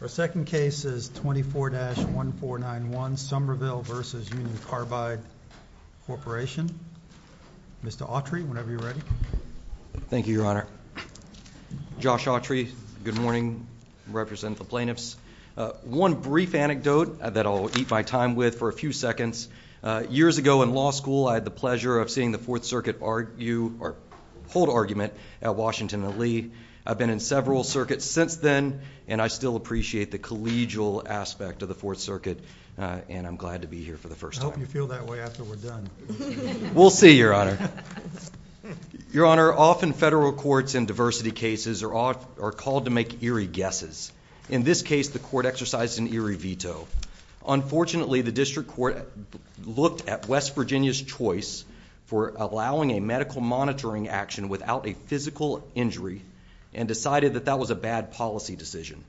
Our second case is 24-1491, Somerville v. Union Carbide Corporation. Mr. Autry, whenever you're ready. Thank you, Your Honor. Josh Autry, good morning. I represent the plaintiffs. One brief anecdote that I'll eat my time with for a few seconds. Years ago in law school, I had the pleasure of seeing the Fourth Circuit hold argument at Washington and Lee. I've been in several circuits since then, and I still appreciate the collegial aspect of the Fourth Circuit. And I'm glad to be here for the first time. I hope you feel that way after we're done. We'll see, Your Honor. Your Honor, often federal courts in diversity cases are called to make eerie guesses. In this case, the court exercised an eerie veto. Unfortunately, the district court looked at West Virginia's choice for allowing a medical monitoring action without a physical injury and decided that that was a bad policy decision.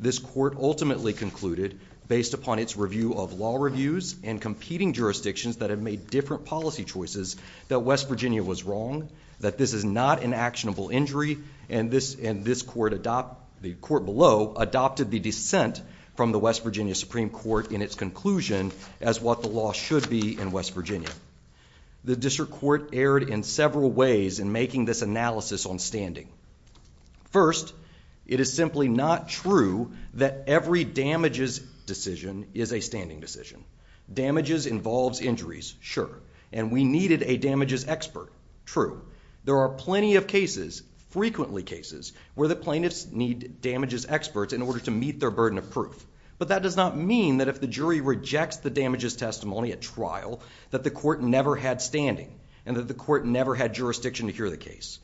This court ultimately concluded, based upon its review of law reviews and competing jurisdictions that have made different policy choices, that West Virginia was wrong, that this is not an actionable injury, and the court below adopted the dissent from the West Virginia Supreme Court in its conclusion as what the law should be in West Virginia. The district court erred in several ways in making this analysis on standing. First, it is simply not true that every damages decision is a standing decision. Damages involves injuries, sure. And we needed a damages expert, true. There are plenty of cases, frequently cases, where the plaintiffs need damages experts in order to meet their burden of proof. But that does not mean that if the jury rejects the damages testimony at trial, that the court never had standing and that the court never had jurisdiction to hear the case.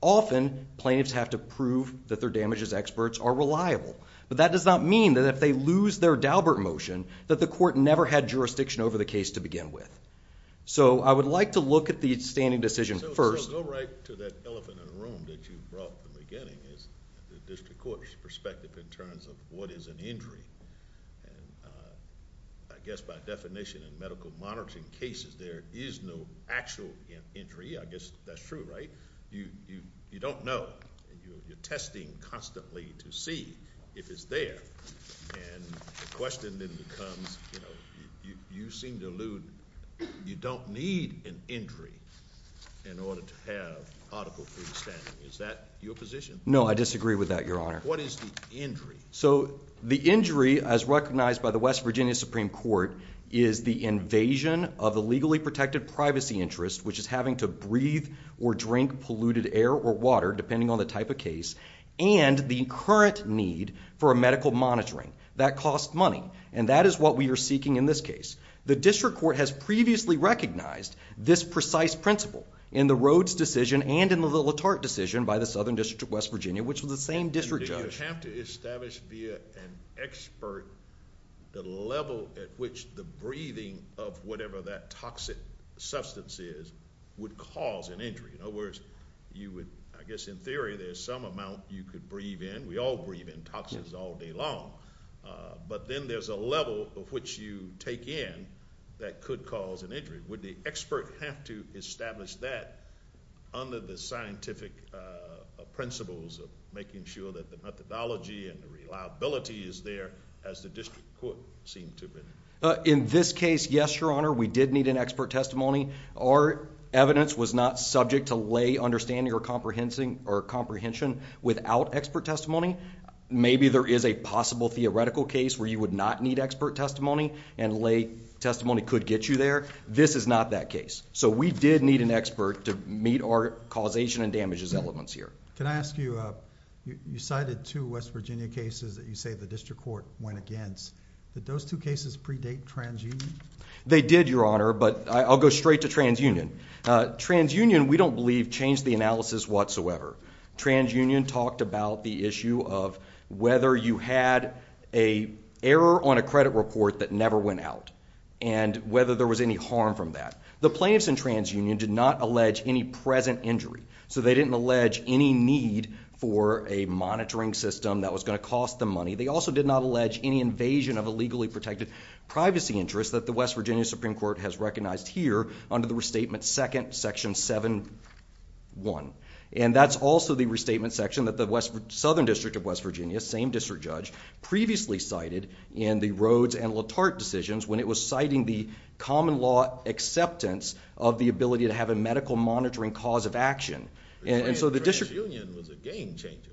Often, plaintiffs have to prove that their damages experts are reliable. But that does not mean that if they lose their Daubert motion, that the court never had jurisdiction over the case to begin with. So I would like to look at the standing decision first. So go right to that elephant in the room that you brought at the beginning, the district court's perspective in terms of what is an injury. And I guess by definition in medical monitoring cases, there is no actual injury. I guess that's true, right? You don't know. You're testing constantly to see if it's there. And the question then becomes, you know, you seem to allude, you don't need an injury in order to have article 3 standing. Is that your position? No, I disagree with that, Your Honor. What is the injury? So the injury, as recognized by the West Virginia Supreme Court, is the invasion of the legally protected privacy interest, which is having to breathe or drink polluted air or water, depending on the type of case, and the current need for a medical monitoring. That costs money. And that is what we are seeking in this case. The district court has previously recognized this precise principle in the Rhodes decision and in the LaTarte decision by the Southern District of West Virginia, which was the same district judge... You have to establish via an expert the level at which the breathing of whatever that toxic substance is would cause an injury. In other words, you would... I guess in theory, there's some amount you could breathe in. We all breathe in toxins all day long. But then there's a level of which you take in that could cause an injury. Would the expert have to establish that under the scientific principles of making sure that the methodology and the reliability is there as the district court seemed to have been? In this case, yes, Your Honor. We did need an expert testimony. Our evidence was not subject to lay understanding or comprehension without expert testimony. Maybe there is a possible theoretical case where you would not need expert testimony and lay testimony could get you there. This is not that case. So we did need an expert to meet our causation and damages elements here. Can I ask you... you cited two West Virginia cases that you say the district court went against. Did those two cases predate trans-union? They did, Your Honor, but I'll go straight to trans-union. Trans-union, we don't believe, changed the analysis whatsoever. Trans-union talked about the issue of whether you had an error on a credit report that never went out and whether there was any harm from that. The plaintiffs in trans-union did not allege any present injury. So they didn't allege any need for a monitoring system that was going to cost them money. They also did not allege any invasion of a legally protected privacy interest that the West Virginia Supreme Court has recognized here under the restatement second, section 7-1. And that's also the restatement section that the southern district of West Virginia, same district judge, previously cited in the Rhodes and LaTarte decisions when it was citing the common law acceptance of the ability to have a medical monitoring cause of action. Trans-union was a game-changer.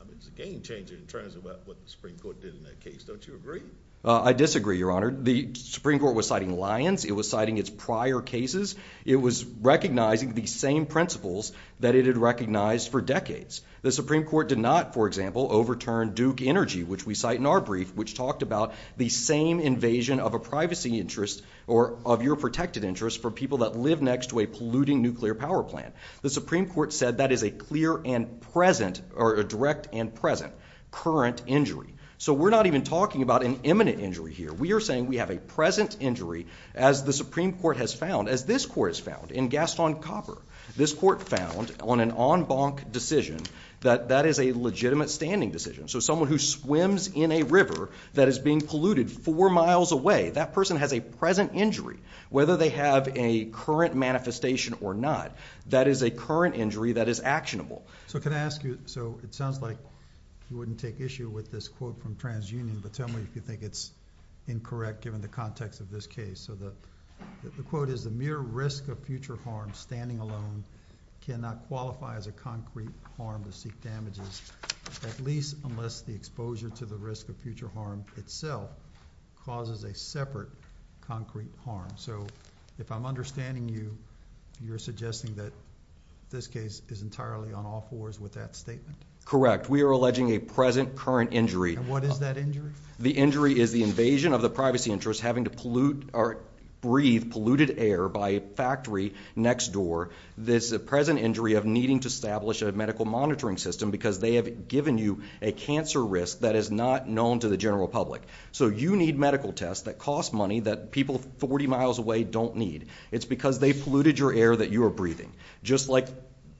I mean, it's a game-changer in terms of what the Supreme Court did in that case. Don't you agree? I disagree, Your Honor. The Supreme Court was citing Lyons. It was citing its prior cases. It was recognizing the same principles that it had recognized for decades. The Supreme Court did not, for example, overturn Duke Energy, which we cite in our brief, which talked about the same invasion of a privacy interest or of your protected interest for people that live next to a polluting nuclear power plant. The Supreme Court said that is a clear and present, or a direct and present, current injury. So we're not even talking about an imminent injury here. We are saying we have a present injury, as the Supreme Court has found, as this court has found in Gaston Copper. This court found on an en banc decision that that is a legitimate standing decision. So someone who swims in a river that is being polluted four miles away, that person has a present injury, whether they have a current manifestation or not. That is a current injury that is actionable. So it sounds like you wouldn't take issue with this quote from TransUnion, but tell me if you think it's incorrect, given the context of this case. So the quote is, The mere risk of future harm standing alone cannot qualify as a concrete harm to seek damages, at least unless the exposure to the risk of future harm itself causes a separate concrete harm. So if I'm understanding you, you're suggesting that this case is entirely on all fours with that statement. Correct. We are alleging a present, current injury. And what is that injury? The injury is the invasion of the privacy interest having to breathe polluted air by a factory next door. This is a present injury of needing to establish a medical monitoring system because they have given you a cancer risk that is not known to the general public. So you need medical tests that cost money that people 40 miles away don't need. It's because they polluted your air that you are breathing, just like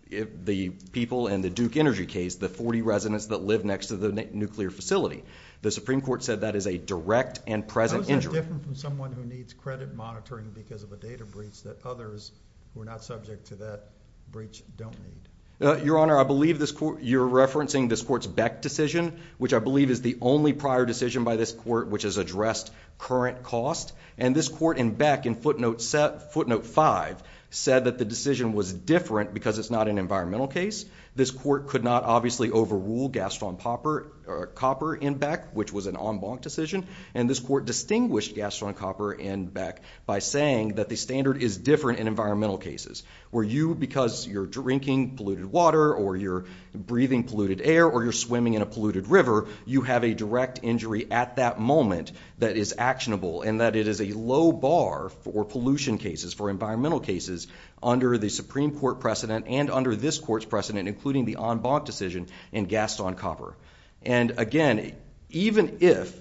the people in the Duke Energy case, the 40 residents that live next to the nuclear facility. The Supreme Court said that is a direct and present injury. It's different from someone who needs credit monitoring because of a data breach that others who are not subject to that breach don't need. Your Honor, I believe you're referencing this court's Beck decision, which I believe is the only prior decision by this court which has addressed current cost. And this court in Beck in footnote 5 said that the decision was different because it's not an environmental case. This court could not obviously overrule Gaston Copper in Beck, which was an en banc decision. And this court distinguished Gaston Copper in Beck by saying that the standard is different in environmental cases where you, because you're drinking polluted water or you're breathing polluted air or you're swimming in a polluted river, you have a direct injury at that moment that is actionable and that it is a low bar for pollution cases, for environmental cases under the Supreme Court precedent and under this court's precedent, including the en banc decision in Gaston Copper. And again, even if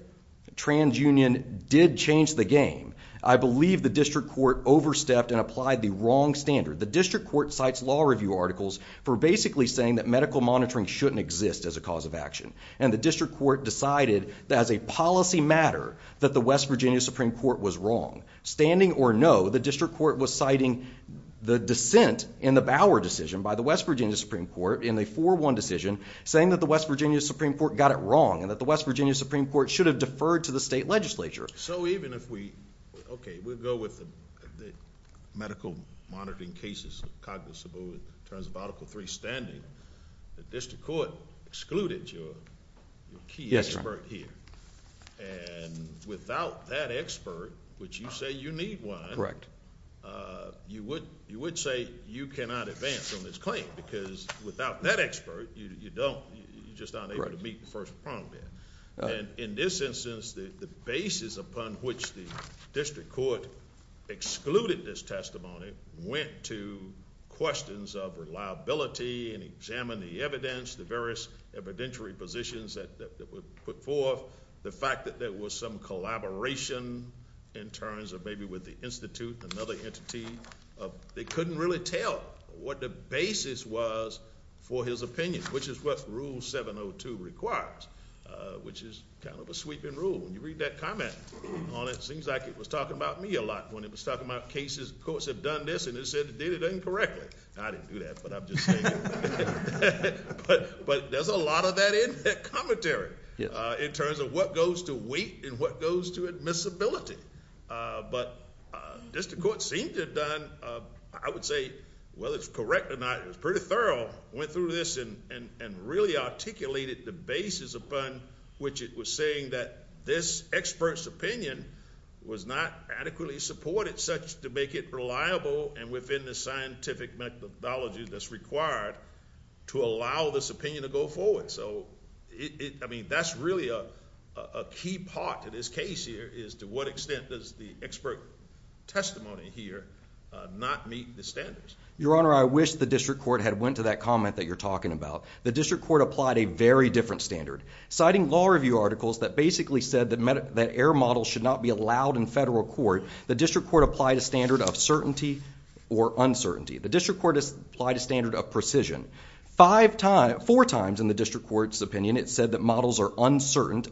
TransUnion did change the game, I believe the district court overstepped and applied the wrong standard. The district court cites law review articles for basically saying that medical monitoring shouldn't exist as a cause of action. And the district court decided that as a policy matter that the West Virginia Supreme Court was wrong. Standing or no, the district court was citing the dissent in the Bauer decision by the West Virginia Supreme Court in a 4-1 decision, saying that the West Virginia Supreme Court got it wrong and that the West Virginia Supreme Court should have deferred to the state legislature. So even if we, okay, we'll go with the medical monitoring cases, cognizable in terms of Article 3 standing, the district court excluded your key expert here. And without that expert, which you say you need one, you would say you cannot advance on this claim because without that expert, you're just not able to meet the first prong there. And in this instance, the basis upon which the district court excluded this testimony went to questions of reliability and examine the evidence, the various evidentiary positions that were put forth, the fact that there was some collaboration in terms of maybe with the institute, another entity. They couldn't really tell what the basis was for his opinion, which is what Rule 702 requires, which is kind of a sweeping rule. When you read that comment on it, it seems like it was talking about me a lot when it was talking about cases, courts have done this, and it said it did it incorrectly. I didn't do that, but I'm just saying. But there's a lot of that in that commentary in terms of what goes to weight and what goes to admissibility. But the district court seemed to have done, I would say, whether it's correct or not, it was pretty thorough, went through this and really articulated the basis upon which it was saying that this expert's opinion was not adequately supported such to make it reliable and within the scientific methodology that's required to allow this opinion to go forward. That's really a key part to this case here is to what extent does the expert testimony here not meet the standards. Your Honor, I wish the district court had went to that comment that you're talking about. The district court applied a very different standard. Citing law review articles that basically said that error models should not be allowed in federal court, the district court applied a standard of certainty or uncertainty. The district court applied a standard of precision. Four times in the district court's opinion it said that models are uncertain.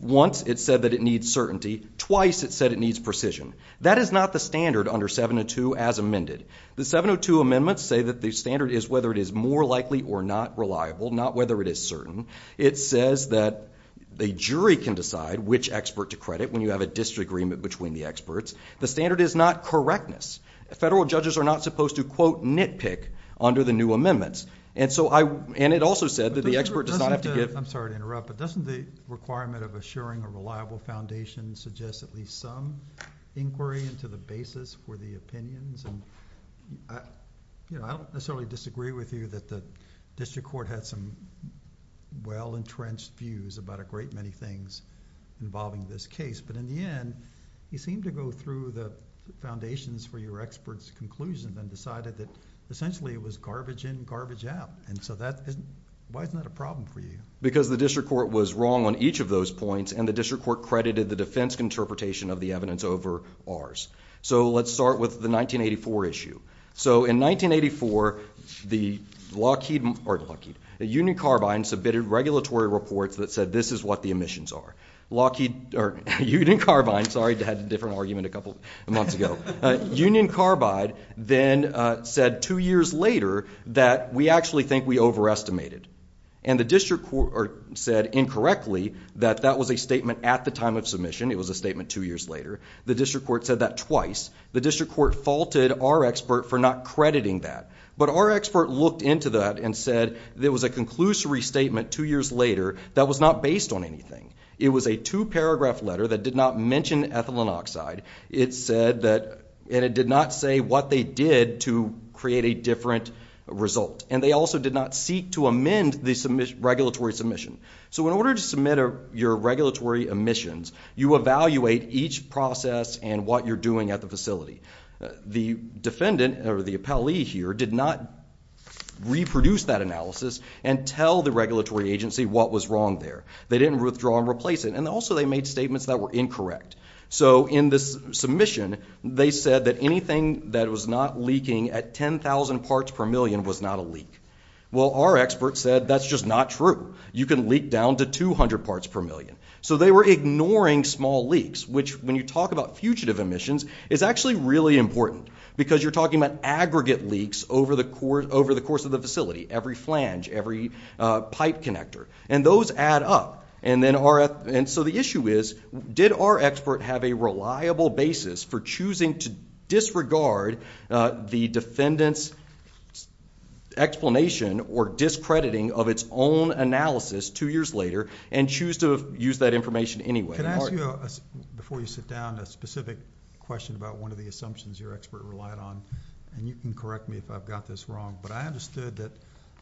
Once it said that it needs certainty. Twice it said it needs precision. That is not the standard under 702 as amended. The 702 amendments say that the standard is whether it is more likely or not reliable, not whether it is certain. It says that the jury can decide which expert to credit when you have a disagreement between the experts. The standard is not correctness. Federal judges are not supposed to, quote, nitpick under the new amendments. It also said that the expert does not have to give... I'm sorry to interrupt, but doesn't the requirement of assuring a reliable foundation suggest at least some inquiry into the basis for the opinions? I don't necessarily disagree with you that the district court had some well-entrenched views about a great many things involving this case. In the end, you seem to go through the foundations for your experts' conclusions and decided that essentially it was garbage in, garbage out. Why isn't that a problem for you? Because the district court was wrong on each of those points and the district court credited the defense interpretation of the evidence over ours. Let's start with the 1984 issue. In 1984, the Union Carbine submitted regulatory reports that said this is what the emissions are. Union Carbine, sorry, had a different argument a couple of months ago. Union Carbine then said two years later that we actually think we overestimated. And the district court said incorrectly that that was a statement at the time of submission. It was a statement two years later. The district court said that twice. The district court faulted our expert for not crediting that. But our expert looked into that and said it was a conclusory statement two years later that was not based on anything. It was a two-paragraph letter that did not mention ethylene oxide. It said that it did not say what they did to create a different result. And they also did not seek to amend the regulatory submission. So in order to submit your regulatory emissions, you evaluate each process and what you're doing at the facility. The defendant or the appellee here did not reproduce that analysis and tell the regulatory agency what was wrong there. They didn't withdraw and replace it. And also they made statements that were incorrect. So in the submission they said that anything that was not leaking at 10,000 parts per million was not a leak. Well, our expert said that's just not true. You can leak down to 200 parts per million. So they were ignoring small leaks, which when you talk about fugitive emissions is actually really important because you're talking about aggregate leaks over the course of the facility, every flange, every pipe connector. And those add up. And so the issue is, did our expert have a reliable basis for choosing to disregard the defendant's explanation or discrediting of its own analysis two years later and choose to use that information anyway? Can I ask you, before you sit down, a specific question about one of the assumptions your expert relied on? And you can correct me if I've got this wrong. But I understood that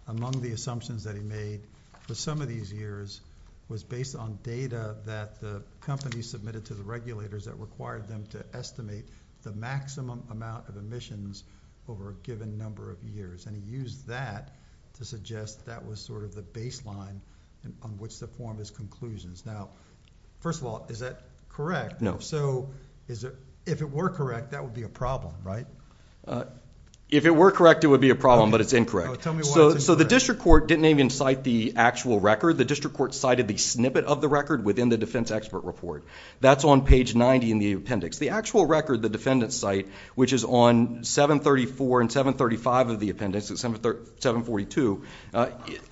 among the assumptions that he made for some of these years was based on data that the company submitted to the regulators that required them to estimate the maximum amount of emissions over a given number of years. And he used that to suggest that was sort of the baseline on which to form his conclusions. Now, first of all, is that correct? No. So if it were correct, that would be a problem, right? If it were correct, it would be a problem. But it's incorrect. So the district court didn't even cite the actual record. The district court cited the snippet of the record within the defense expert report. That's on page 90 in the appendix. The actual record the defendants cite, which is on 734 and 735 of the appendix, 742,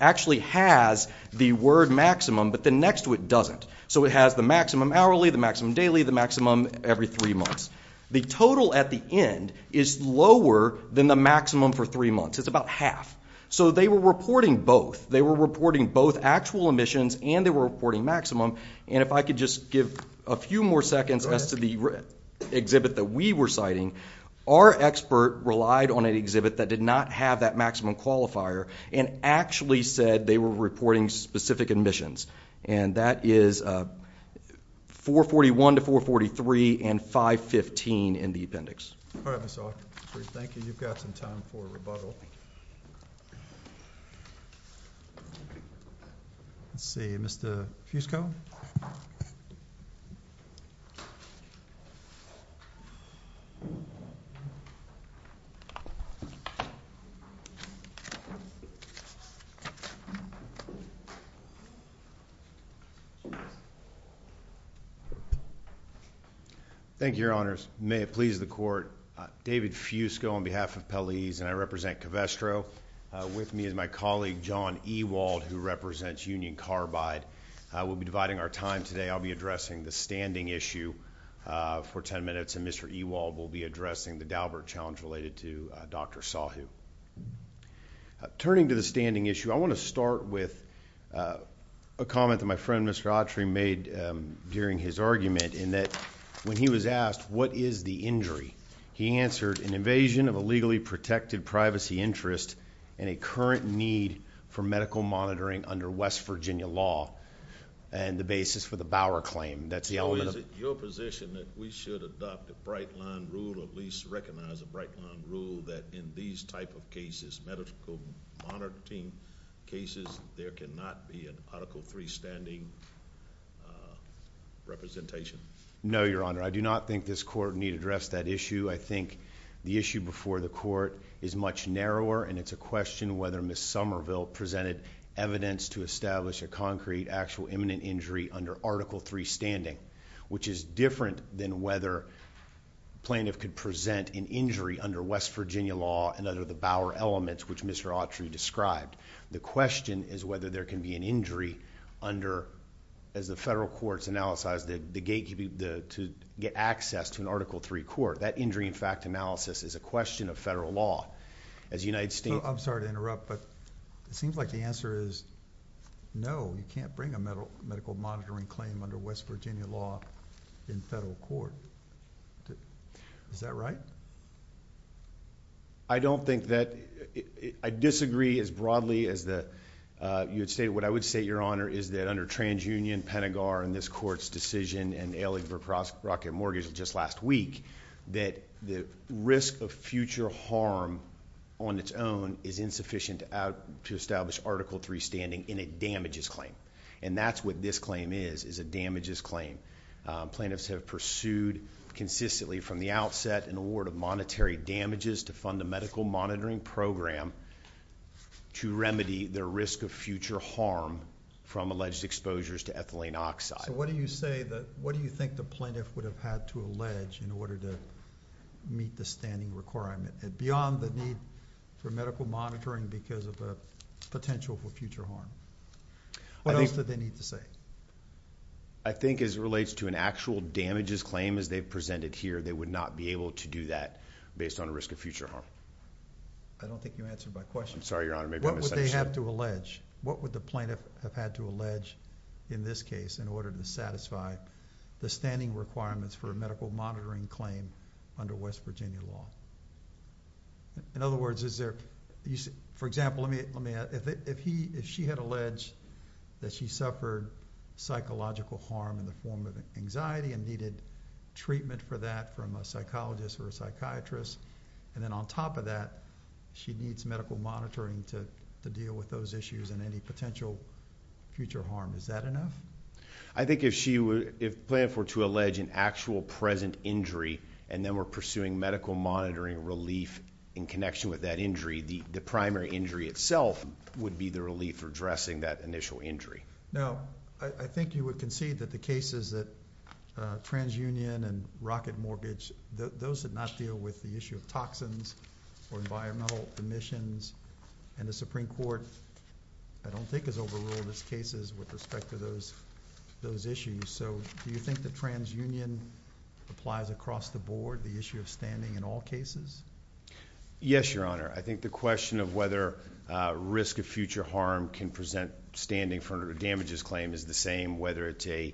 actually has the word maximum, but the next to it doesn't. So it has the maximum hourly, the maximum daily, the maximum every three months. The total at the end is lower than the maximum for three months. It's about half. So they were reporting both. They were reporting both actual emissions and they were reporting maximum. And if I could just give a few more seconds as to the exhibit that we were citing, our expert relied on an exhibit that did not have that maximum qualifier and actually said they were reporting specific emissions. And that is 441 to 443 and 515 in the appendix. All right, Mr. Hawkins. Thank you. You've got some time for rebuttal. Let's see. Mr. Fusco? Thank you, Your Honors. May it please the Court. David Fusco on behalf of Pelleas and I represent Covestro. With me is my colleague, John Ewald, who represents Union Carbide. We'll be dividing our time today. I'll be addressing the standing issue for 10 minutes and Mr. Ewald will be addressing the Daubert Challenge related to Dr. Sahu. Turning to the standing issue, I want to start with a comment that my friend, Mr. Autry, made during his argument in that when he was asked what is the injury, he answered an invasion of a legally protected privacy interest and a current need for medical monitoring under West Virginia law and the basis for the Bower claim. Is it your position that we should adopt a bright-line rule or at least recognize a bright-line rule that in these type of cases, medical monitoring cases, there cannot be an Article III standing representation? No, Your Honor. I do not think this Court need address that issue. I think the issue before the Court is much narrower and it's a question whether Ms. Somerville presented evidence to establish a concrete actual imminent injury under Article III standing, which is different than whether plaintiff could present an injury under West Virginia law and under the Bower elements, which Mr. Autry described. The question is whether there can be an injury under... as the federal courts analyze the gatekeeping to get access to an Article III court. That injury, in fact, analysis is a question of federal law. As the United States... I'm sorry to interrupt, but it seems like the answer is no. You can't bring a medical monitoring claim under West Virginia law in federal court. Is that right? I don't think that... I disagree as broadly as the... What I would say, Your Honor, is that under TransUnion, Pentagar, and this Court's decision in Ellingbrook Rocket Mortgage just last week, that the risk of future harm on its own is insufficient to establish Article III standing in a damages claim. And that's what this claim is, is a damages claim. Plaintiffs have pursued consistently from the outset an award of monetary damages to fund a medical monitoring program to remedy their risk of future harm from alleged exposures to ethylene oxide. So what do you say that... What do you think the plaintiff would have had to allege in order to meet the standing requirement beyond the need for medical monitoring because of the potential for future harm? What else did they need to say? I think as it relates to an actual damages claim as they've presented here, they would not be able to do that based on risk of future harm. I don't think you answered my question. I'm sorry, Your Honor. What would they have to allege? What would the plaintiff have had to allege in this case in order to satisfy the standing requirements for a medical monitoring claim under West Virginia law? In other words, is there... For example, let me ask. If she had alleged that she suffered psychological harm in the form of anxiety and needed treatment for that from a psychologist or a psychiatrist, and then on top of that she needs medical monitoring to deal with those issues and any potential future harm, is that enough? I think if she... If the plaintiff were to allege an actual present injury and then were pursuing medical monitoring relief in connection with that injury, the primary injury itself would be the relief addressing that initial injury. No. I think you would concede that the cases that... TransUnion and Rocket Mortgage, those did not deal with the issue of toxins or environmental emissions, and the Supreme Court, I don't think, has overruled its cases with respect to those issues. Do you think that TransUnion applies across the board, the issue of standing in all cases? Yes, Your Honor. I think the question of whether risk of future harm can present standing for damages claim is the same, whether it's a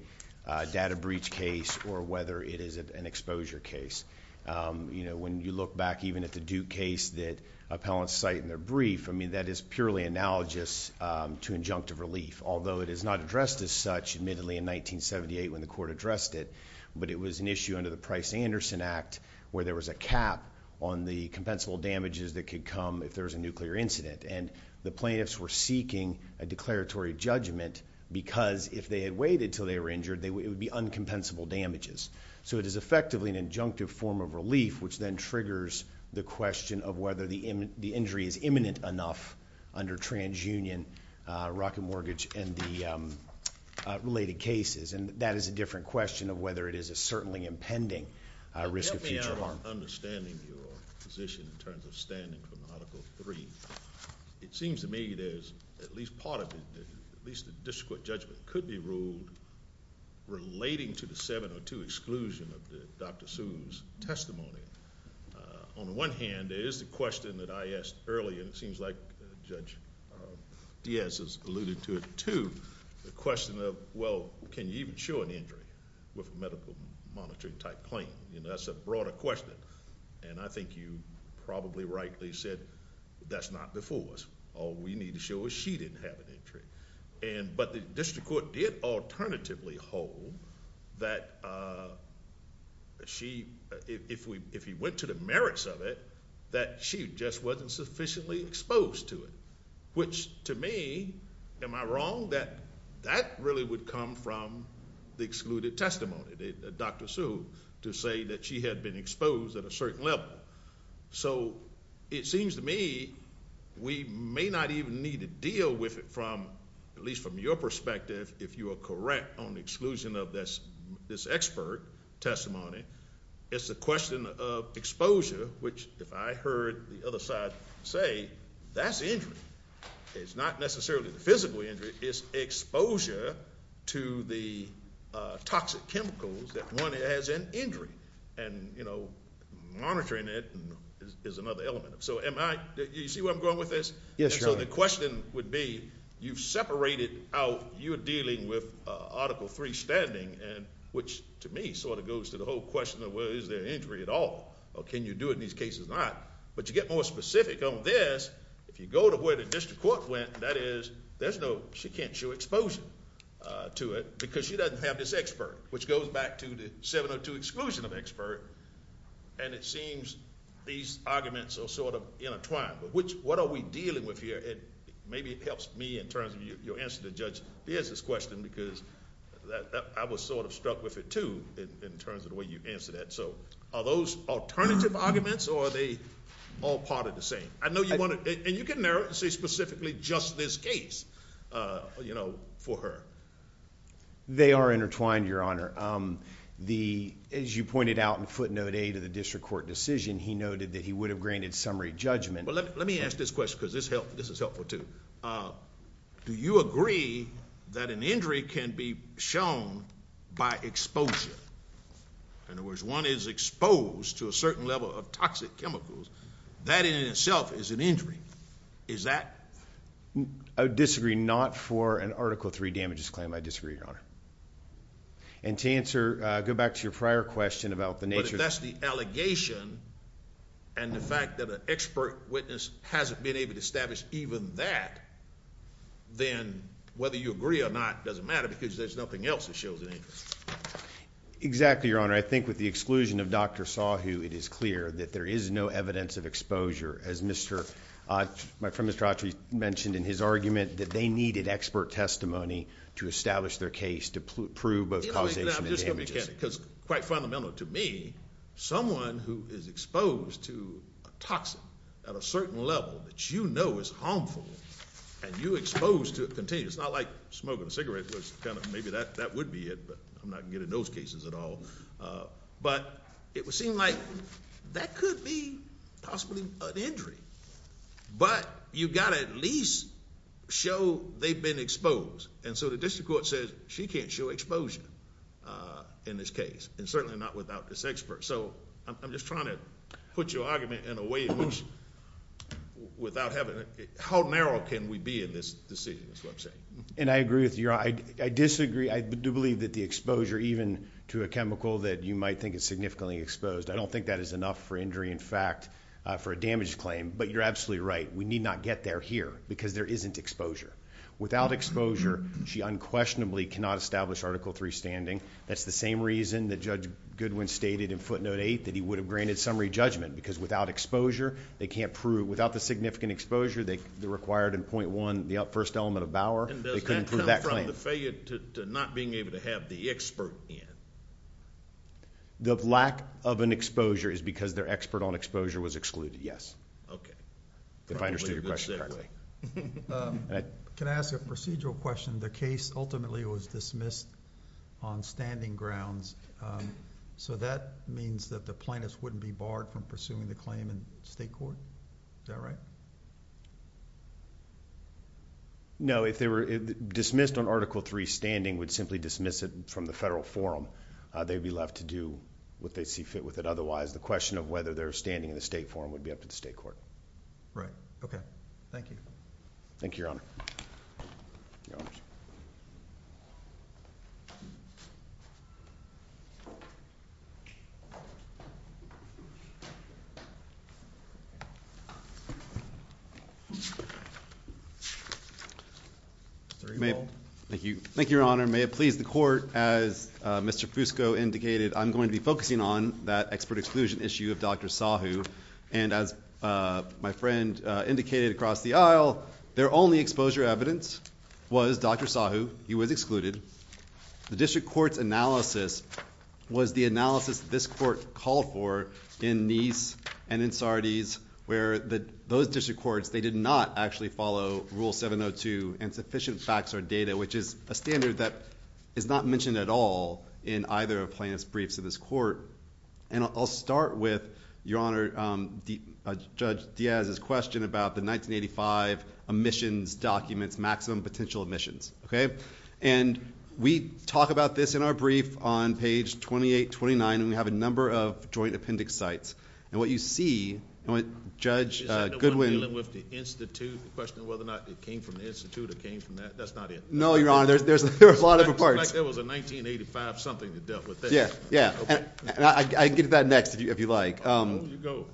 data breach case or whether it is an exposure case. When you look back even at the Duke case that appellants cite in their brief, that is purely analogous to injunctive relief, although it is not addressed as such, admittedly, in 1978 when the court addressed it, but it was an issue under the Price-Anderson Act where there was a cap on the compensable damages that could come if there was a nuclear incident, and the plaintiffs were seeking a declaratory judgment because if they had waited until they were injured, it would be uncompensable damages. So it is effectively an injunctive form of relief which then triggers the question of whether the injury is imminent enough under TransUnion, Rocket Mortgage, and the related cases, and that is a different question of whether it is a certainly impending risk of future harm. I'm not understanding your position in terms of standing from Article III. It seems to me there's at least part of it, at least the district court judgment, could be ruled relating to the 702 exclusion of Dr. Sue's testimony. On the one hand, there is the question that I asked earlier, and it seems like Judge Diaz has alluded to it too, the question of, well, can you even show an injury with a medical monitoring-type claim? That's a broader question, and I think you probably rightly said that's not before us. All we need to show is she didn't have an injury, but the district court did alternatively hold that if he went to the merits of it, that she just wasn't sufficiently exposed to it, which to me, am I wrong? That really would come from the excluded testimony, Dr. Sue, to say that she had been exposed at a certain level. So it seems to me we may not even need to deal with it from, at least from your perspective, if you are correct on the exclusion of this expert testimony. It's a question of exposure, which if I heard the other side say, that's injury. It's not necessarily the physical injury. It's exposure to the toxic chemicals that one has an injury, and monitoring it is another element. So you see where I'm going with this? Yes, Your Honor. So the question would be, you've separated out, you're dealing with Article III standing, which to me sort of goes to the whole question of well, is there an injury at all, or can you do it in these cases or not? But to get more specific on this, if you go to where the district court went, and that is there's no, she can't show exposure to it because she doesn't have this expert, which goes back to the 702 exclusion of expert, and it seems these arguments are sort of intertwined. But what are we dealing with here? Maybe it helps me in terms of your answer to Judge Beers' question because I was sort of struck with it too in terms of the way you answered that. So are those alternative arguments, or are they all part of the same? And you can narrow it and say specifically just this case for her. They are intertwined, Your Honor. As you pointed out in footnote A to the district court decision, he noted that he would have granted summary judgment. Let me ask this question because this is helpful too. Do you agree that an injury can be shown by exposure? In other words, one is exposed to a certain level of toxic chemicals, that in itself is an injury. Is that? I disagree not for an Article III damages claim. I disagree, Your Honor. And to answer, go back to your prior question about the nature. But if that's the allegation and the fact that an expert witness hasn't been able to establish even that, then whether you agree or not doesn't matter because there's nothing else that shows an injury. Exactly, Your Honor. I think with the exclusion of Dr. Sahu, it is clear that there is no evidence of exposure. As my friend Mr. Autry mentioned in his argument, that they needed expert testimony to establish their case to prove both causation and damages. I'm just going to be candid because quite fundamental to me, someone who is exposed to a toxin at a certain level that you know is harmful and you're exposed to it continuously. It's not like smoking a cigarette. Maybe that would be it, but I'm not good at those cases at all. But it would seem like that could be possibly an injury. But you've got to at least show they've been exposed. And so the district court says she can't show exposure in this case and certainly not without this expert. So I'm just trying to put your argument in a way in which without having... How narrow can we be in this decision, this website? And I agree with you, Your Honor. I disagree. I do believe that the exposure, even to a chemical that you might think is significantly exposed, I don't think that is enough for injury in fact for a damage claim. But you're absolutely right. We need not get there here because there isn't exposure. Without exposure, she unquestionably cannot establish Article III standing. That's the same reason that Judge Goodwin stated in footnote 8 that he would have granted summary judgment because without exposure, they can't prove without the significant exposure they required in .1, the first element of Bauer. They couldn't prove that claim. And does that come from the failure to not being able to have the expert in? The lack of an exposure is because their expert on exposure was excluded, yes. If I understood your question correctly. Can I ask a procedural question? The case ultimately was dismissed on standing grounds. So that means that the plaintiffs wouldn't be barred from pursuing the claim in state court? Is that right? No. If they were dismissed on Article III standing, would simply dismiss it from the federal forum. They'd be left to do what they see fit with it. Otherwise, the question of whether they're standing in the state forum would be up to the state court. Right. Okay. Thank you. Thank you, Your Honor. Your Honor. Thank you. Thank you, Your Honor. May it please the court, as Mr. Fusco indicated, I'm going to be focusing on that expert exclusion issue of Dr. Sahu. And as my friend indicated across the aisle, their only exposure evidence was Dr. Sahu. He was excluded. The district court's analysis was the analysis this court called for in Nice and in Sardis, where those district courts, they did not actually follow Rule 702 and sufficient facts or data, which is a standard that is not mentioned at all in either of plaintiff's briefs to this court. And I'll start with, Your Honor, Judge Diaz's question about the 1985 omissions documents, maximum potential omissions. And we talk about this in our brief on page 28, 29, and we have a number of joint appendix sites. And what you see, Judge Goodwin. Is that the one dealing with the Institute, the question of whether or not it came from the Institute or came from that? That's not it. No, Your Honor. There's a lot of parts. It looks like there was a 1985 something that dealt with this. Yeah. Yeah. And I can get to that next if you like. Oh, you go.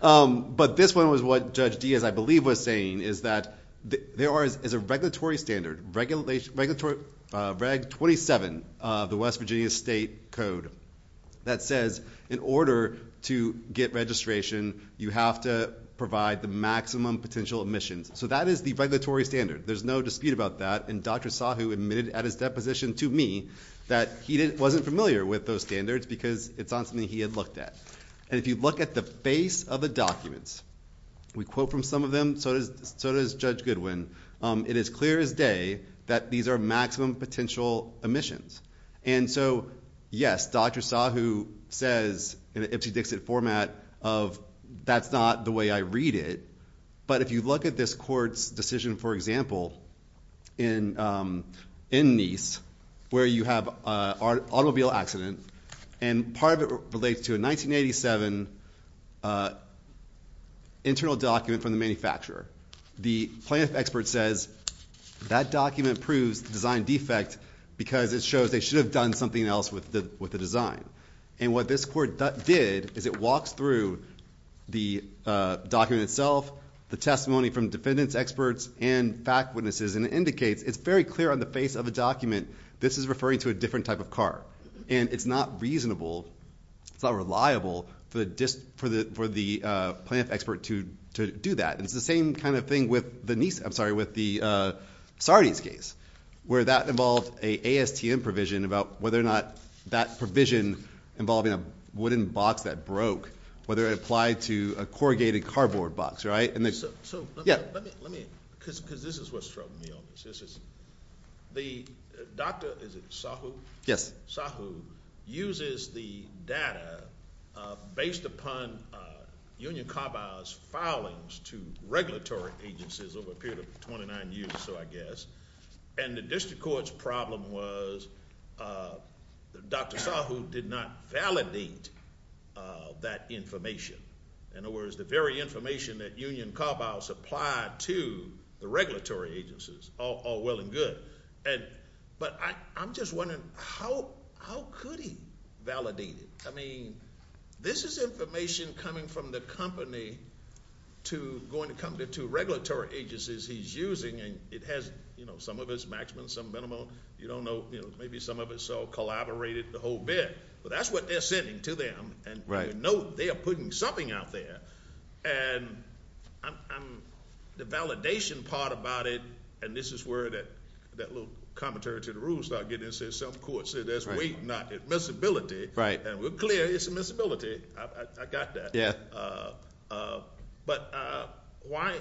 But this one was what Judge Diaz, I believe, was saying, is that there is a regulatory standard, Reg 27, the West Virginia State Code, that says in order to get registration, you have to provide the maximum potential omissions. So that is the regulatory standard. There's no dispute about that. And Dr. Sahu admitted at his deposition to me that he wasn't familiar with those standards because it's not something he had looked at. And if you look at the face of the documents, we quote from some of them, so does Judge Goodwin, it is clear as day that these are maximum potential omissions. And so, yes, Dr. Sahu says in an Ipsy-Dixit format of, that's not the way I read it. But if you look at this court's decision, for example, in Nice, where you have an automobile accident, and part of it relates to a 1987 internal document from the manufacturer, the plaintiff expert says that document proves the design defect because it shows they should have done something else with the design. And what this court did is it walks through the document itself, the testimony from defendants, experts, and fact witnesses, and it indicates it's very clear on the face of the document this is referring to a different type of car. And it's not reasonable, it's not reliable for the plaintiff expert to do that. And it's the same kind of thing with the Sardi's case, where that involved an ASTM provision about whether or not that provision involved in a wooden box that broke, whether it applied to a corrugated cardboard box, right? So let me, because this is what's troubling me on this. The doctor, is it Sahu? Yes. Sahu uses the data based upon Union Carbis' filings to regulatory agencies over a period of 29 years or so, I guess, and the district court's problem was that Dr. Sahu did not validate that information. In other words, the very information that Union Carbis applied to the regulatory agencies, all well and good. But I'm just wondering, how could he validate it? I mean, this is information coming from the company going to come to regulatory agencies he's using, and it has, you know, some of it's maximum, some minimum. You don't know. Maybe some of it's all collaborated, the whole bit. But that's what they're sending to them, and you know they are putting something out there. And I'm, the validation part about it, and this is where that little commentary to the rules started getting into some courts. There's weight, not admissibility. Right. And we're clear it's admissibility. I got that. But why,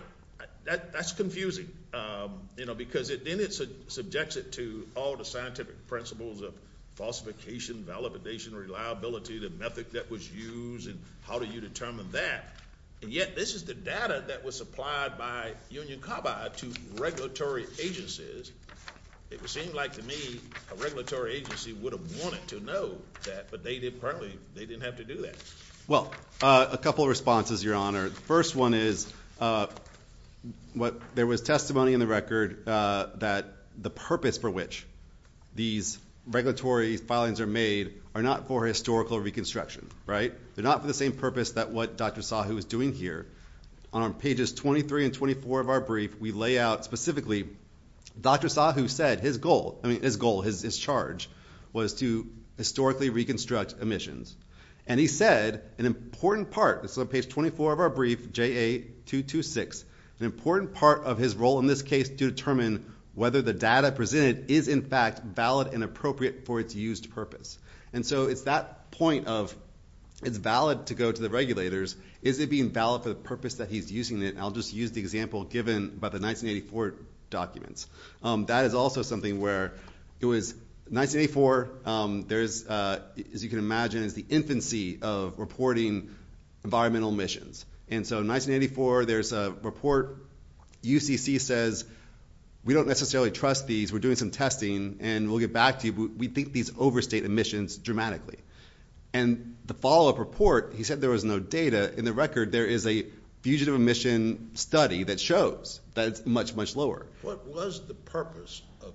that's confusing, you know, because then it subjects it to all the scientific principles of falsification, validation, reliability, the method that was used, and how do you determine that? And yet, this is the data that was supplied by Union Carbide to regulatory agencies. It would seem like to me a regulatory agency would have wanted to know that, but they didn't have to do that. Well, a couple of responses, Your Honor. The first one is, there was testimony in the record that the purpose for which these regulatory filings are made are not for historical reconstruction, right? They're not for the same purpose that what Dr. Sahu is doing here. On pages 23 and 24 of our brief, we lay out specifically, Dr. Sahu said his goal, I mean, his goal, his charge, was to historically reconstruct emissions. And he said an important part, this is on page 24 of our brief, JA226, an important part of his role in this case to determine whether the data presented is in fact valid and appropriate for its used purpose. And so it's that point of, it's valid to go to the regulators, is it being valid for the purpose that he's using it? I'll just use the example given by the 1984 documents. That is also something where it was 1984, there's, as you can imagine, is the infancy of reporting environmental emissions. And so in 1984, there's a report, UCC says, we don't necessarily trust these, we're doing some testing, and we'll get back to you, we think these overstate emissions dramatically. And the follow-up report, he said there was no data. In the record, there is a fugitive emission study that shows that it's much, much lower. What was the purpose of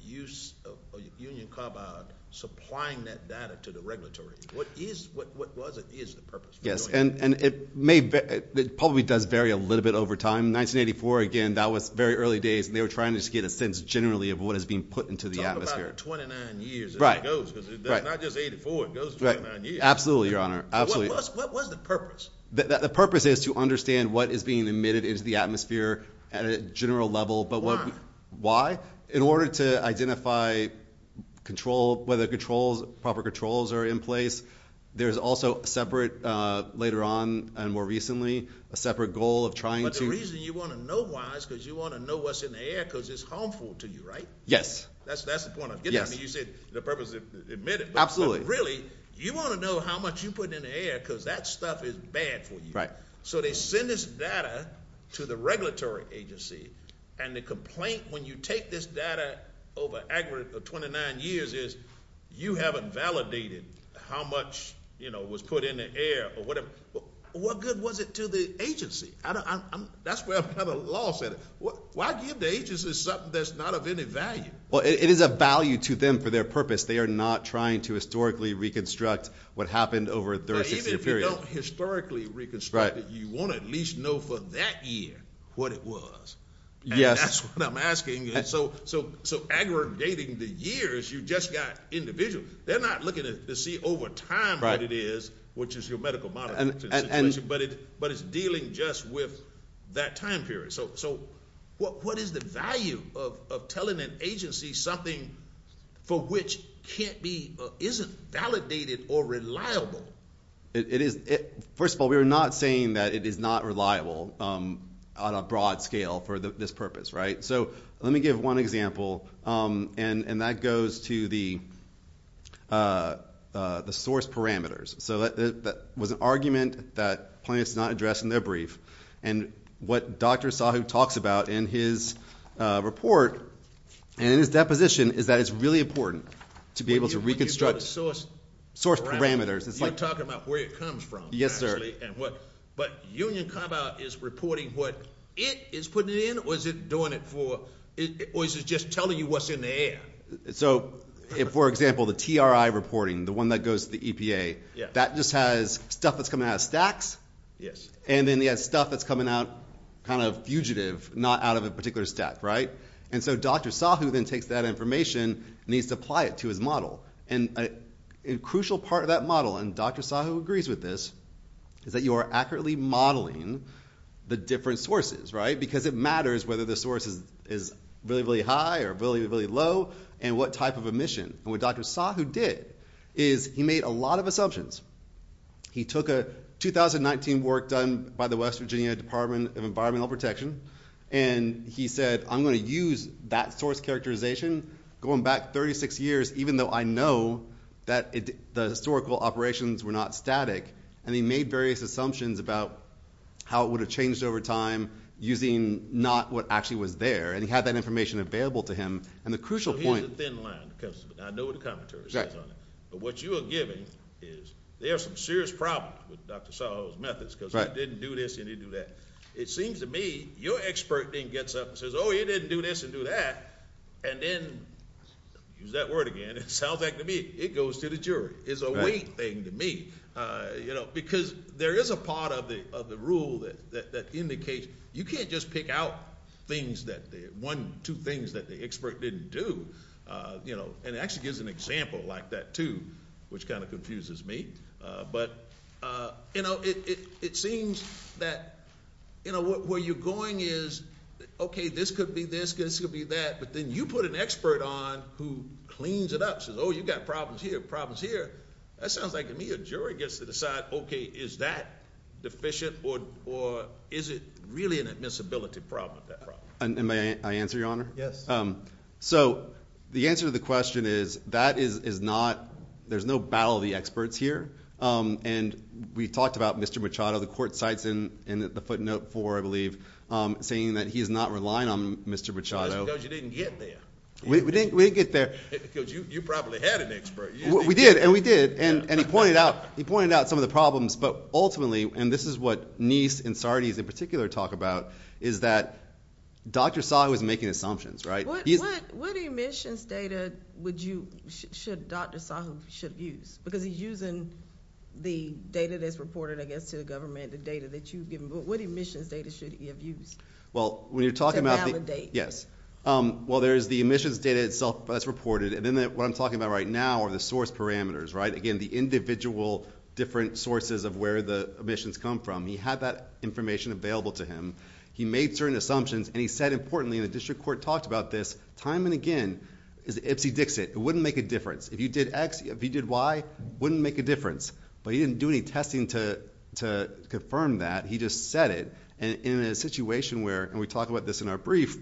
use of Union Carbide supplying that data to the regulatory? What is, what was it, is the purpose? Yes, and it may, it probably does vary a little bit over time. 1984, again, that was very early days, and they were trying to just get a sense generally of what is being put into the atmosphere. Talk about 29 years as it goes, because it's not just 84, it goes 29 years. Absolutely, Your Honor, absolutely. What was the purpose? The purpose is to understand what is being emitted into the atmosphere at a general level. Why? Why? In order to identify control, whether controls, proper controls are in place. There's also separate, later on and more recently, a separate goal of trying to... But the reason you want to know why is because you want to know what's in the air, because it's harmful to you, right? Yes. That's the point I'm getting at. You said the purpose is to emit it. Absolutely. But really, you want to know how much you put in the air, because that stuff is bad for you. So they send this data to the regulatory agency, and the complaint when you take this data over a 29 years is you haven't validated how much, you know, was put in the air or whatever. What good was it to the agency? That's where the law said it. Why give the agency something that's not of any value? Well, it is a value to them for their purpose. They are not trying to historically reconstruct what happened over a 36-year period. Even if you don't historically reconstruct it, you want to at least know for that year what it was. Yes. And that's what I'm asking. So aggregating the years, you just got individual. They're not looking to see over time what it is, which is your medical monitoring situation, but it's dealing just with that time period. So what is the value of telling an agency something for which can't be or isn't validated or reliable? First of all, we are not saying that it is not reliable on a broad scale for this purpose, right? So let me give one example, and that goes to the source parameters. So that was an argument that plaintiffs did not address in their brief, and what Dr. Asahu talks about in his report and in his deposition is that it's really important to be able to reconstruct source parameters. You're talking about where it comes from, actually. But Union Compound is reporting what it is putting in, or is it just telling you what's in the air? So, for example, the TRI reporting, the one that goes to the EPA, that just has stuff that's coming out of stacks, and then it has stuff that's coming out kind of fugitive, not out of a particular stack, right? And so Dr. Asahu then takes that information and he needs to apply it to his model. And a crucial part of that model, and Dr. Asahu agrees with this, is that you are accurately modeling the different sources, right? Because it matters whether the source is really, really high or really, really low, and what type of emission. And what Dr. Asahu did is he made a lot of assumptions. He took a 2019 work done by the West Virginia Department of Environmental Protection, and he said, I'm going to use that source characterization going back 36 years, even though I know that the historical operations were not static. And he made various assumptions about how it would have changed over time using not what actually was there. And he had that information available to him. And the crucial point... So he's a thin line. I know what the commentary says on it. But what you are giving is there are some serious problems with Dr. Asahu's methods because he didn't do this and he didn't do that. It seems to me your expert then gets up and says, oh, he didn't do this and do that, and then, use that word again, it sounds like to me it goes to the jury. It's a weight thing to me. Because there is a part of the rule that indicates you can't just pick out things, one, two things that the expert didn't do. And it actually gives an example like that, too, which kind of confuses me. But it seems that where you're going is, okay, this could be this, this could be that, but then you put an expert on who cleans it up and says, oh, you've got problems here, problems here. That sounds like to me a jury gets to decide, okay, is that deficient or is it really an admissibility problem? May I answer, Your Honor? Yes. So the answer to the question is that is not ñ there's no battle of the experts here. And we talked about Mr. Machado. The court cites in the footnote 4, I believe, saying that he is not relying on Mr. Machado. Because he knows you didn't get there. We didn't get there. Because you probably had an expert. We did, and we did. And he pointed out some of the problems. But ultimately, and this is what Nice and Sardis in particular talk about, is that Dr. Sahu is making assumptions, right? What emissions data should Dr. Sahu use? Because he's using the data that's reported, I guess, to the government, the data that you've given. But what emissions data should he have used to validate? Yes. Well, there's the emissions data itself that's reported. And then what I'm talking about right now are the source parameters, right? Again, the individual different sources of where the emissions come from. He had that information available to him. He made certain assumptions. And he said, importantly, and the district court talked about this time and again, is the Ipsy Dixit. It wouldn't make a difference. If you did X, if you did Y, it wouldn't make a difference. But he didn't do any testing to confirm that. He just said it. And in a situation where, and we talked about this in our brief,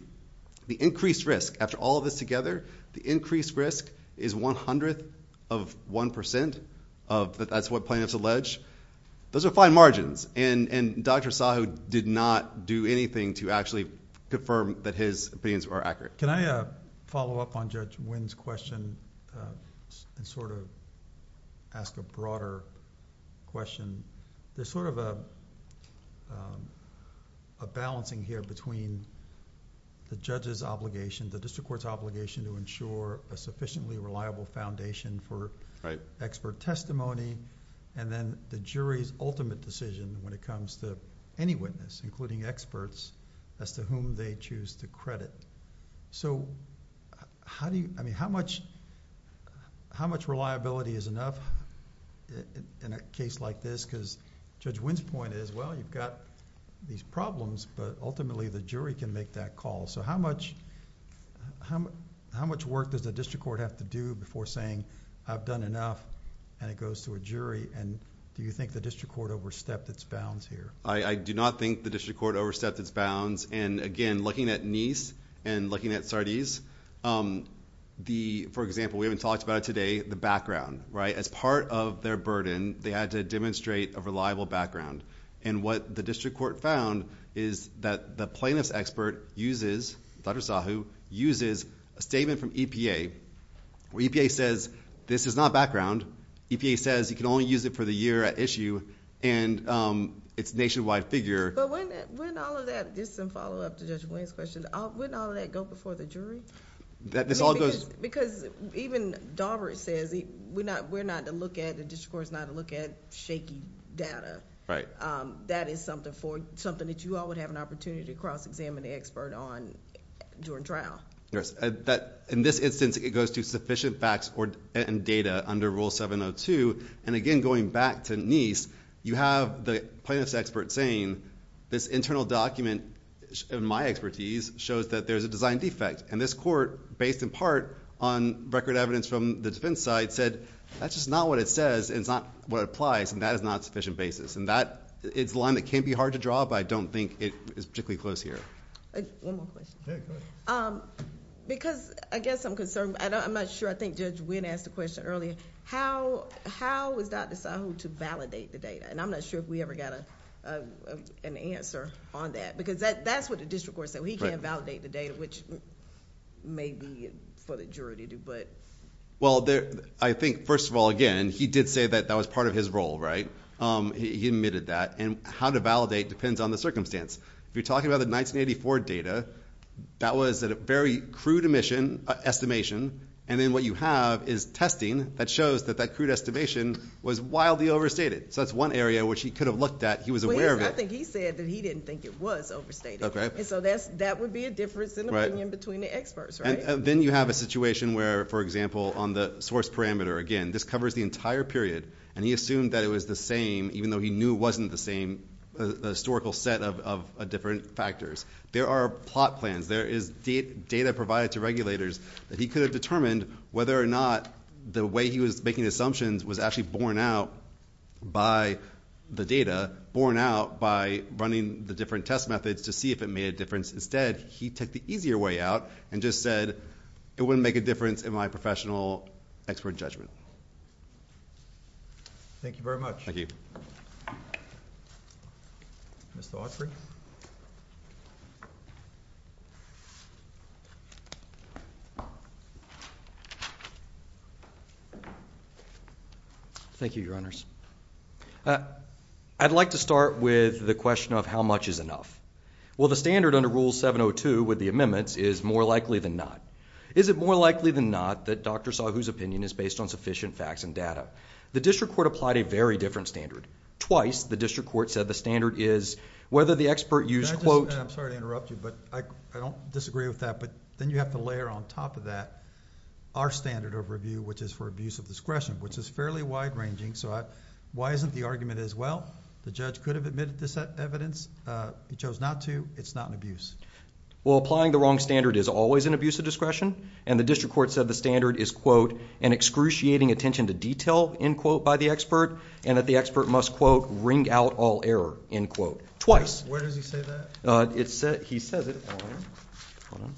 the increased risk, after all of this together, the increased risk is one hundredth of one percent. That's what plaintiffs allege. Those are fine margins. And Dr. Sahu did not do anything to actually confirm that his opinions were accurate. Can I follow up on Judge Winn's question and sort of ask a broader question? There's sort of a balancing here between the judge's obligation, the district court's obligation to ensure a sufficiently reliable foundation for expert testimony, and then the jury's ultimate decision when it comes to any witness, including experts as to whom they choose to credit. How much reliability is enough in a case like this? Because Judge Winn's point is, well, you've got these problems, but ultimately, the jury can make that call. How much work does the district court have to do before saying, I've done enough, and it goes to a jury? Do you think the district court overstepped its bounds here? I do not think the district court overstepped its bounds. Again, looking at Neis and looking at Sardis, for example, we haven't talked about it today, the background. As part of their burden, they had to demonstrate a reliable background. What the district court found is that the plaintiff's expert uses, Dr. Sahu, uses a statement from EPA where EPA says, this is not background. EPA says you can only use it for the year at issue, and it's a nationwide figure. But wouldn't all of that, just some follow-up to Judge Winn's question, wouldn't all of that go before the jury? That this all goes... Because even Daubert says, we're not to look at, the district court's not to look at shaky data, that is something that you all would have an opportunity to cross-examine the expert on during trial. Yes. In this instance, it goes to sufficient facts and data under Rule 702. Again, going back to Neis, you have the plaintiff's expert saying, this internal document, in my expertise, shows that there's a design defect. This court, based in part on record evidence from the defense side, said, that's just not what it says, and it's not what it applies, and that is not a sufficient basis. It's a line that can be hard to draw, but I don't think it's particularly close here. One more question. Okay, go ahead. Because, I guess I'm concerned. I'm not sure. I think Judge Winn asked a question earlier. How is Dr. Sahu to validate the data? I'm not sure if we ever got an answer on that, because that's what the district court said. He can't validate the data, which may be for the jury to do, but... I think, first of all, again, he did say that that was part of his role, right? He admitted that. How to validate depends on the circumstance. If you're talking about the 1984 data, that was a very crude estimation, and then what you have is testing that shows that that crude estimation was wildly overstated. That's one area which he could have looked at. He was aware of it. I think he said that he didn't think it was overstated. Okay. That would be a difference in opinion between the experts, right? Then you have a situation where, for example, on the source parameter, again, this covers the entire period, and he assumed that it was the same, even though he knew it wasn't the same historical set of different factors. There are plot plans. There is data provided to regulators that he could have determined whether or not the way he was making assumptions was actually borne out by the data, borne out by running the different test methods to see if it made a difference. Instead, he took the easier way out and just said, it wouldn't make a difference in my professional expert judgment. Thank you very much. Mr. Autry. Thank you, Your Honors. I'd like to start with the question of how much is enough. Well, the standard under Rule 702 with the amendments is more likely than not. Is it more likely than not that doctor saw whose opinion is based on sufficient facts and data? The district court applied a very different standard. Twice, the district court said the standard is whether the expert used, quote... I'm sorry to interrupt you, but I don't disagree with that, but then you have to layer on top of that our standard of review, which is for abuse of discretion, which is fairly wide ranging. Why isn't the argument as well? The judge could have admitted this evidence. He chose not to. It's not an abuse. Well, applying the wrong standard is always an abuse of discretion, and the district court said the standard is, quote, an excruciating attention to detail, end quote, by the expert, and that the expert must, quote, wring out all error, end quote. Twice. Where does he say that? He says it on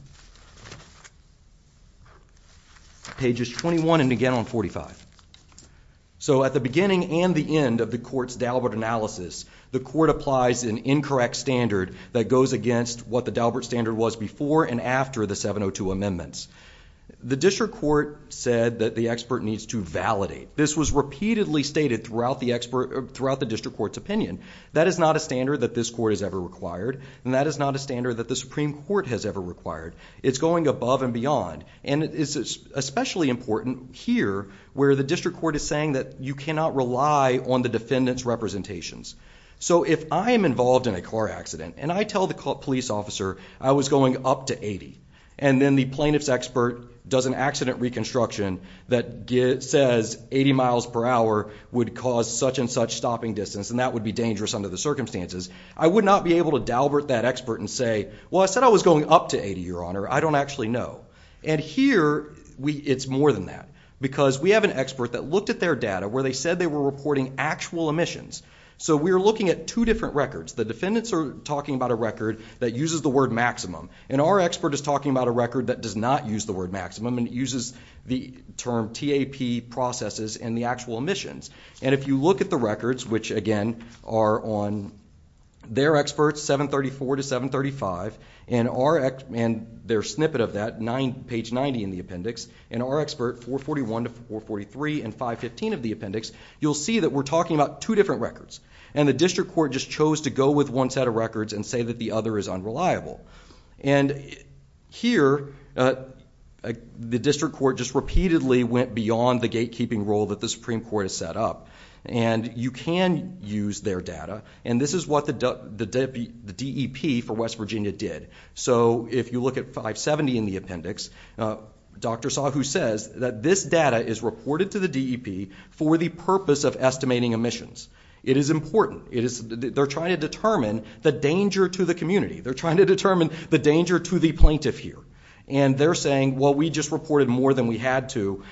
pages 21 and again on 45. So at the beginning and the end of the court's Dalbert analysis, the court applies an incorrect standard that goes against what the Dalbert standard was before and after the 702 amendments. The district court said that the expert needs to validate. This was repeatedly stated throughout the district court's opinion. That is not a standard that this court has ever required, and that is not a standard that the Supreme Court has ever required. It's going above and beyond, and it is especially important here where the district court is saying that you cannot rely on the defendant's representations. So if I am involved in a car accident and I tell the police officer I was going up to 80 and then the plaintiff's expert does an accident reconstruction that says 80 miles per hour would cause such and such stopping distance and that would be dangerous under the circumstances, I would not be able to Dalbert that expert and say, well, I said I was going up to 80, Your Honor. I don't actually know. And here it's more than that because we have an expert that looked at their data where they said they were reporting actual emissions. So we are looking at two different records. The defendants are talking about a record that uses the word maximum, and our expert is talking about a record that does not use the word maximum and uses the term TAP processes and the actual emissions. And if you look at the records, which again are on their experts, 734 to 735, and their snippet of that, page 90 in the appendix, and our expert, 441 to 443 and 515 of the appendix, you'll see that we're talking about two different records. And the district court just chose to go with one set of records and say that the other is unreliable. And here the district court just repeatedly went beyond the gatekeeping role that the Supreme Court has set up. And you can use their data, and this is what the DEP for West Virginia did. So if you look at 570 in the appendix, Dr. Sahu says that this data is reported to the DEP for the purpose of estimating emissions. It is important. They're trying to determine the danger to the community. They're trying to determine the danger to the plaintiff here. And they're saying, well, we just reported more than we had to.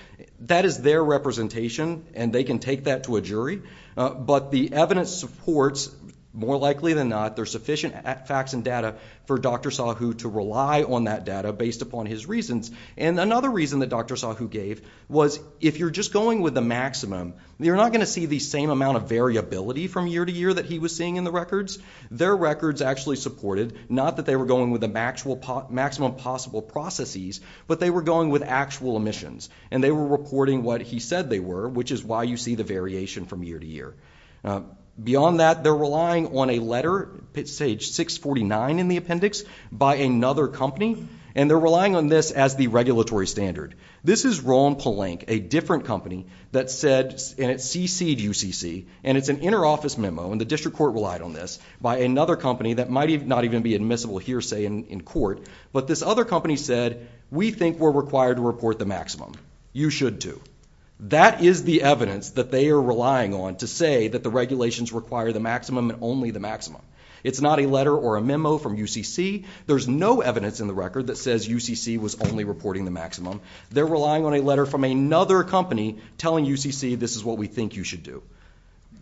That is their representation, and they can take that to a jury. But the evidence supports, more likely than not, that there's sufficient facts and data for Dr. Sahu to rely on that data based upon his reasons. And another reason that Dr. Sahu gave was, if you're just going with the maximum, you're not going to see the same amount of variability from year to year that he was seeing in the records. Their records actually supported, not that they were going with the maximum possible processes, but they were going with actual emissions, and they were reporting what he said they were, which is why you see the variation from year to year. Beyond that, they're relying on a letter, it's page 649 in the appendix, by another company, and they're relying on this as the regulatory standard. This is Roll and Palink, a different company, that said, and it's cc'd UCC, and it's an interoffice memo, and the district court relied on this, by another company that might not even be admissible here, say, in court. But this other company said, we think we're required to report the maximum. You should too. That is the evidence that they are relying on to say that the regulations require the maximum and only the maximum. It's not a letter or a memo from UCC. There's no evidence in the record that says UCC was only reporting the maximum. They're relying on a letter from another company telling UCC this is what we think you should do.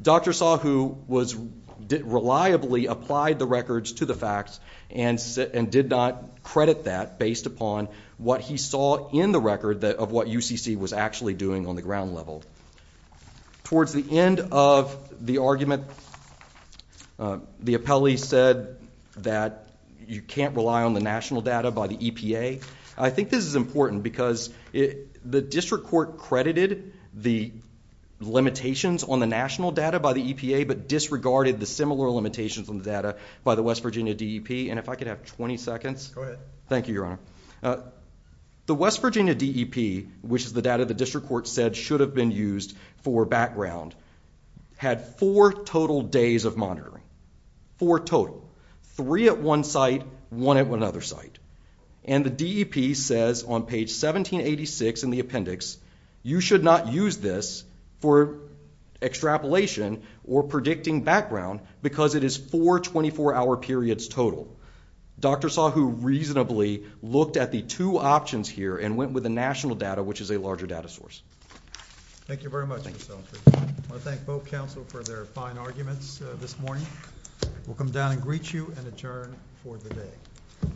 Dr. Sahu reliably applied the records to the facts and did not credit that based upon what he saw in the record of what UCC was actually doing on the ground level. Towards the end of the argument, the appellee said that you can't rely on the national data by the EPA. I think this is important because the district court credited the limitations on the national data by the EPA but disregarded the similar limitations on the data by the West Virginia DEP. And if I could have 20 seconds. Go ahead. Thank you, Your Honor. The West Virginia DEP, which is the data the district court said should have been used for background, had four total days of monitoring. Four total. Three at one site, one at another site. And the DEP says on page 1786 in the appendix, you should not use this for extrapolation or predicting background because it is four 24-hour periods total. Dr. Sahu reasonably looked at the two options here and went with the national data, which is a larger data source. Thank you very much, Mr. Sahu. I want to thank both counsel for their fine arguments this morning. We'll come down and greet you and adjourn for the day.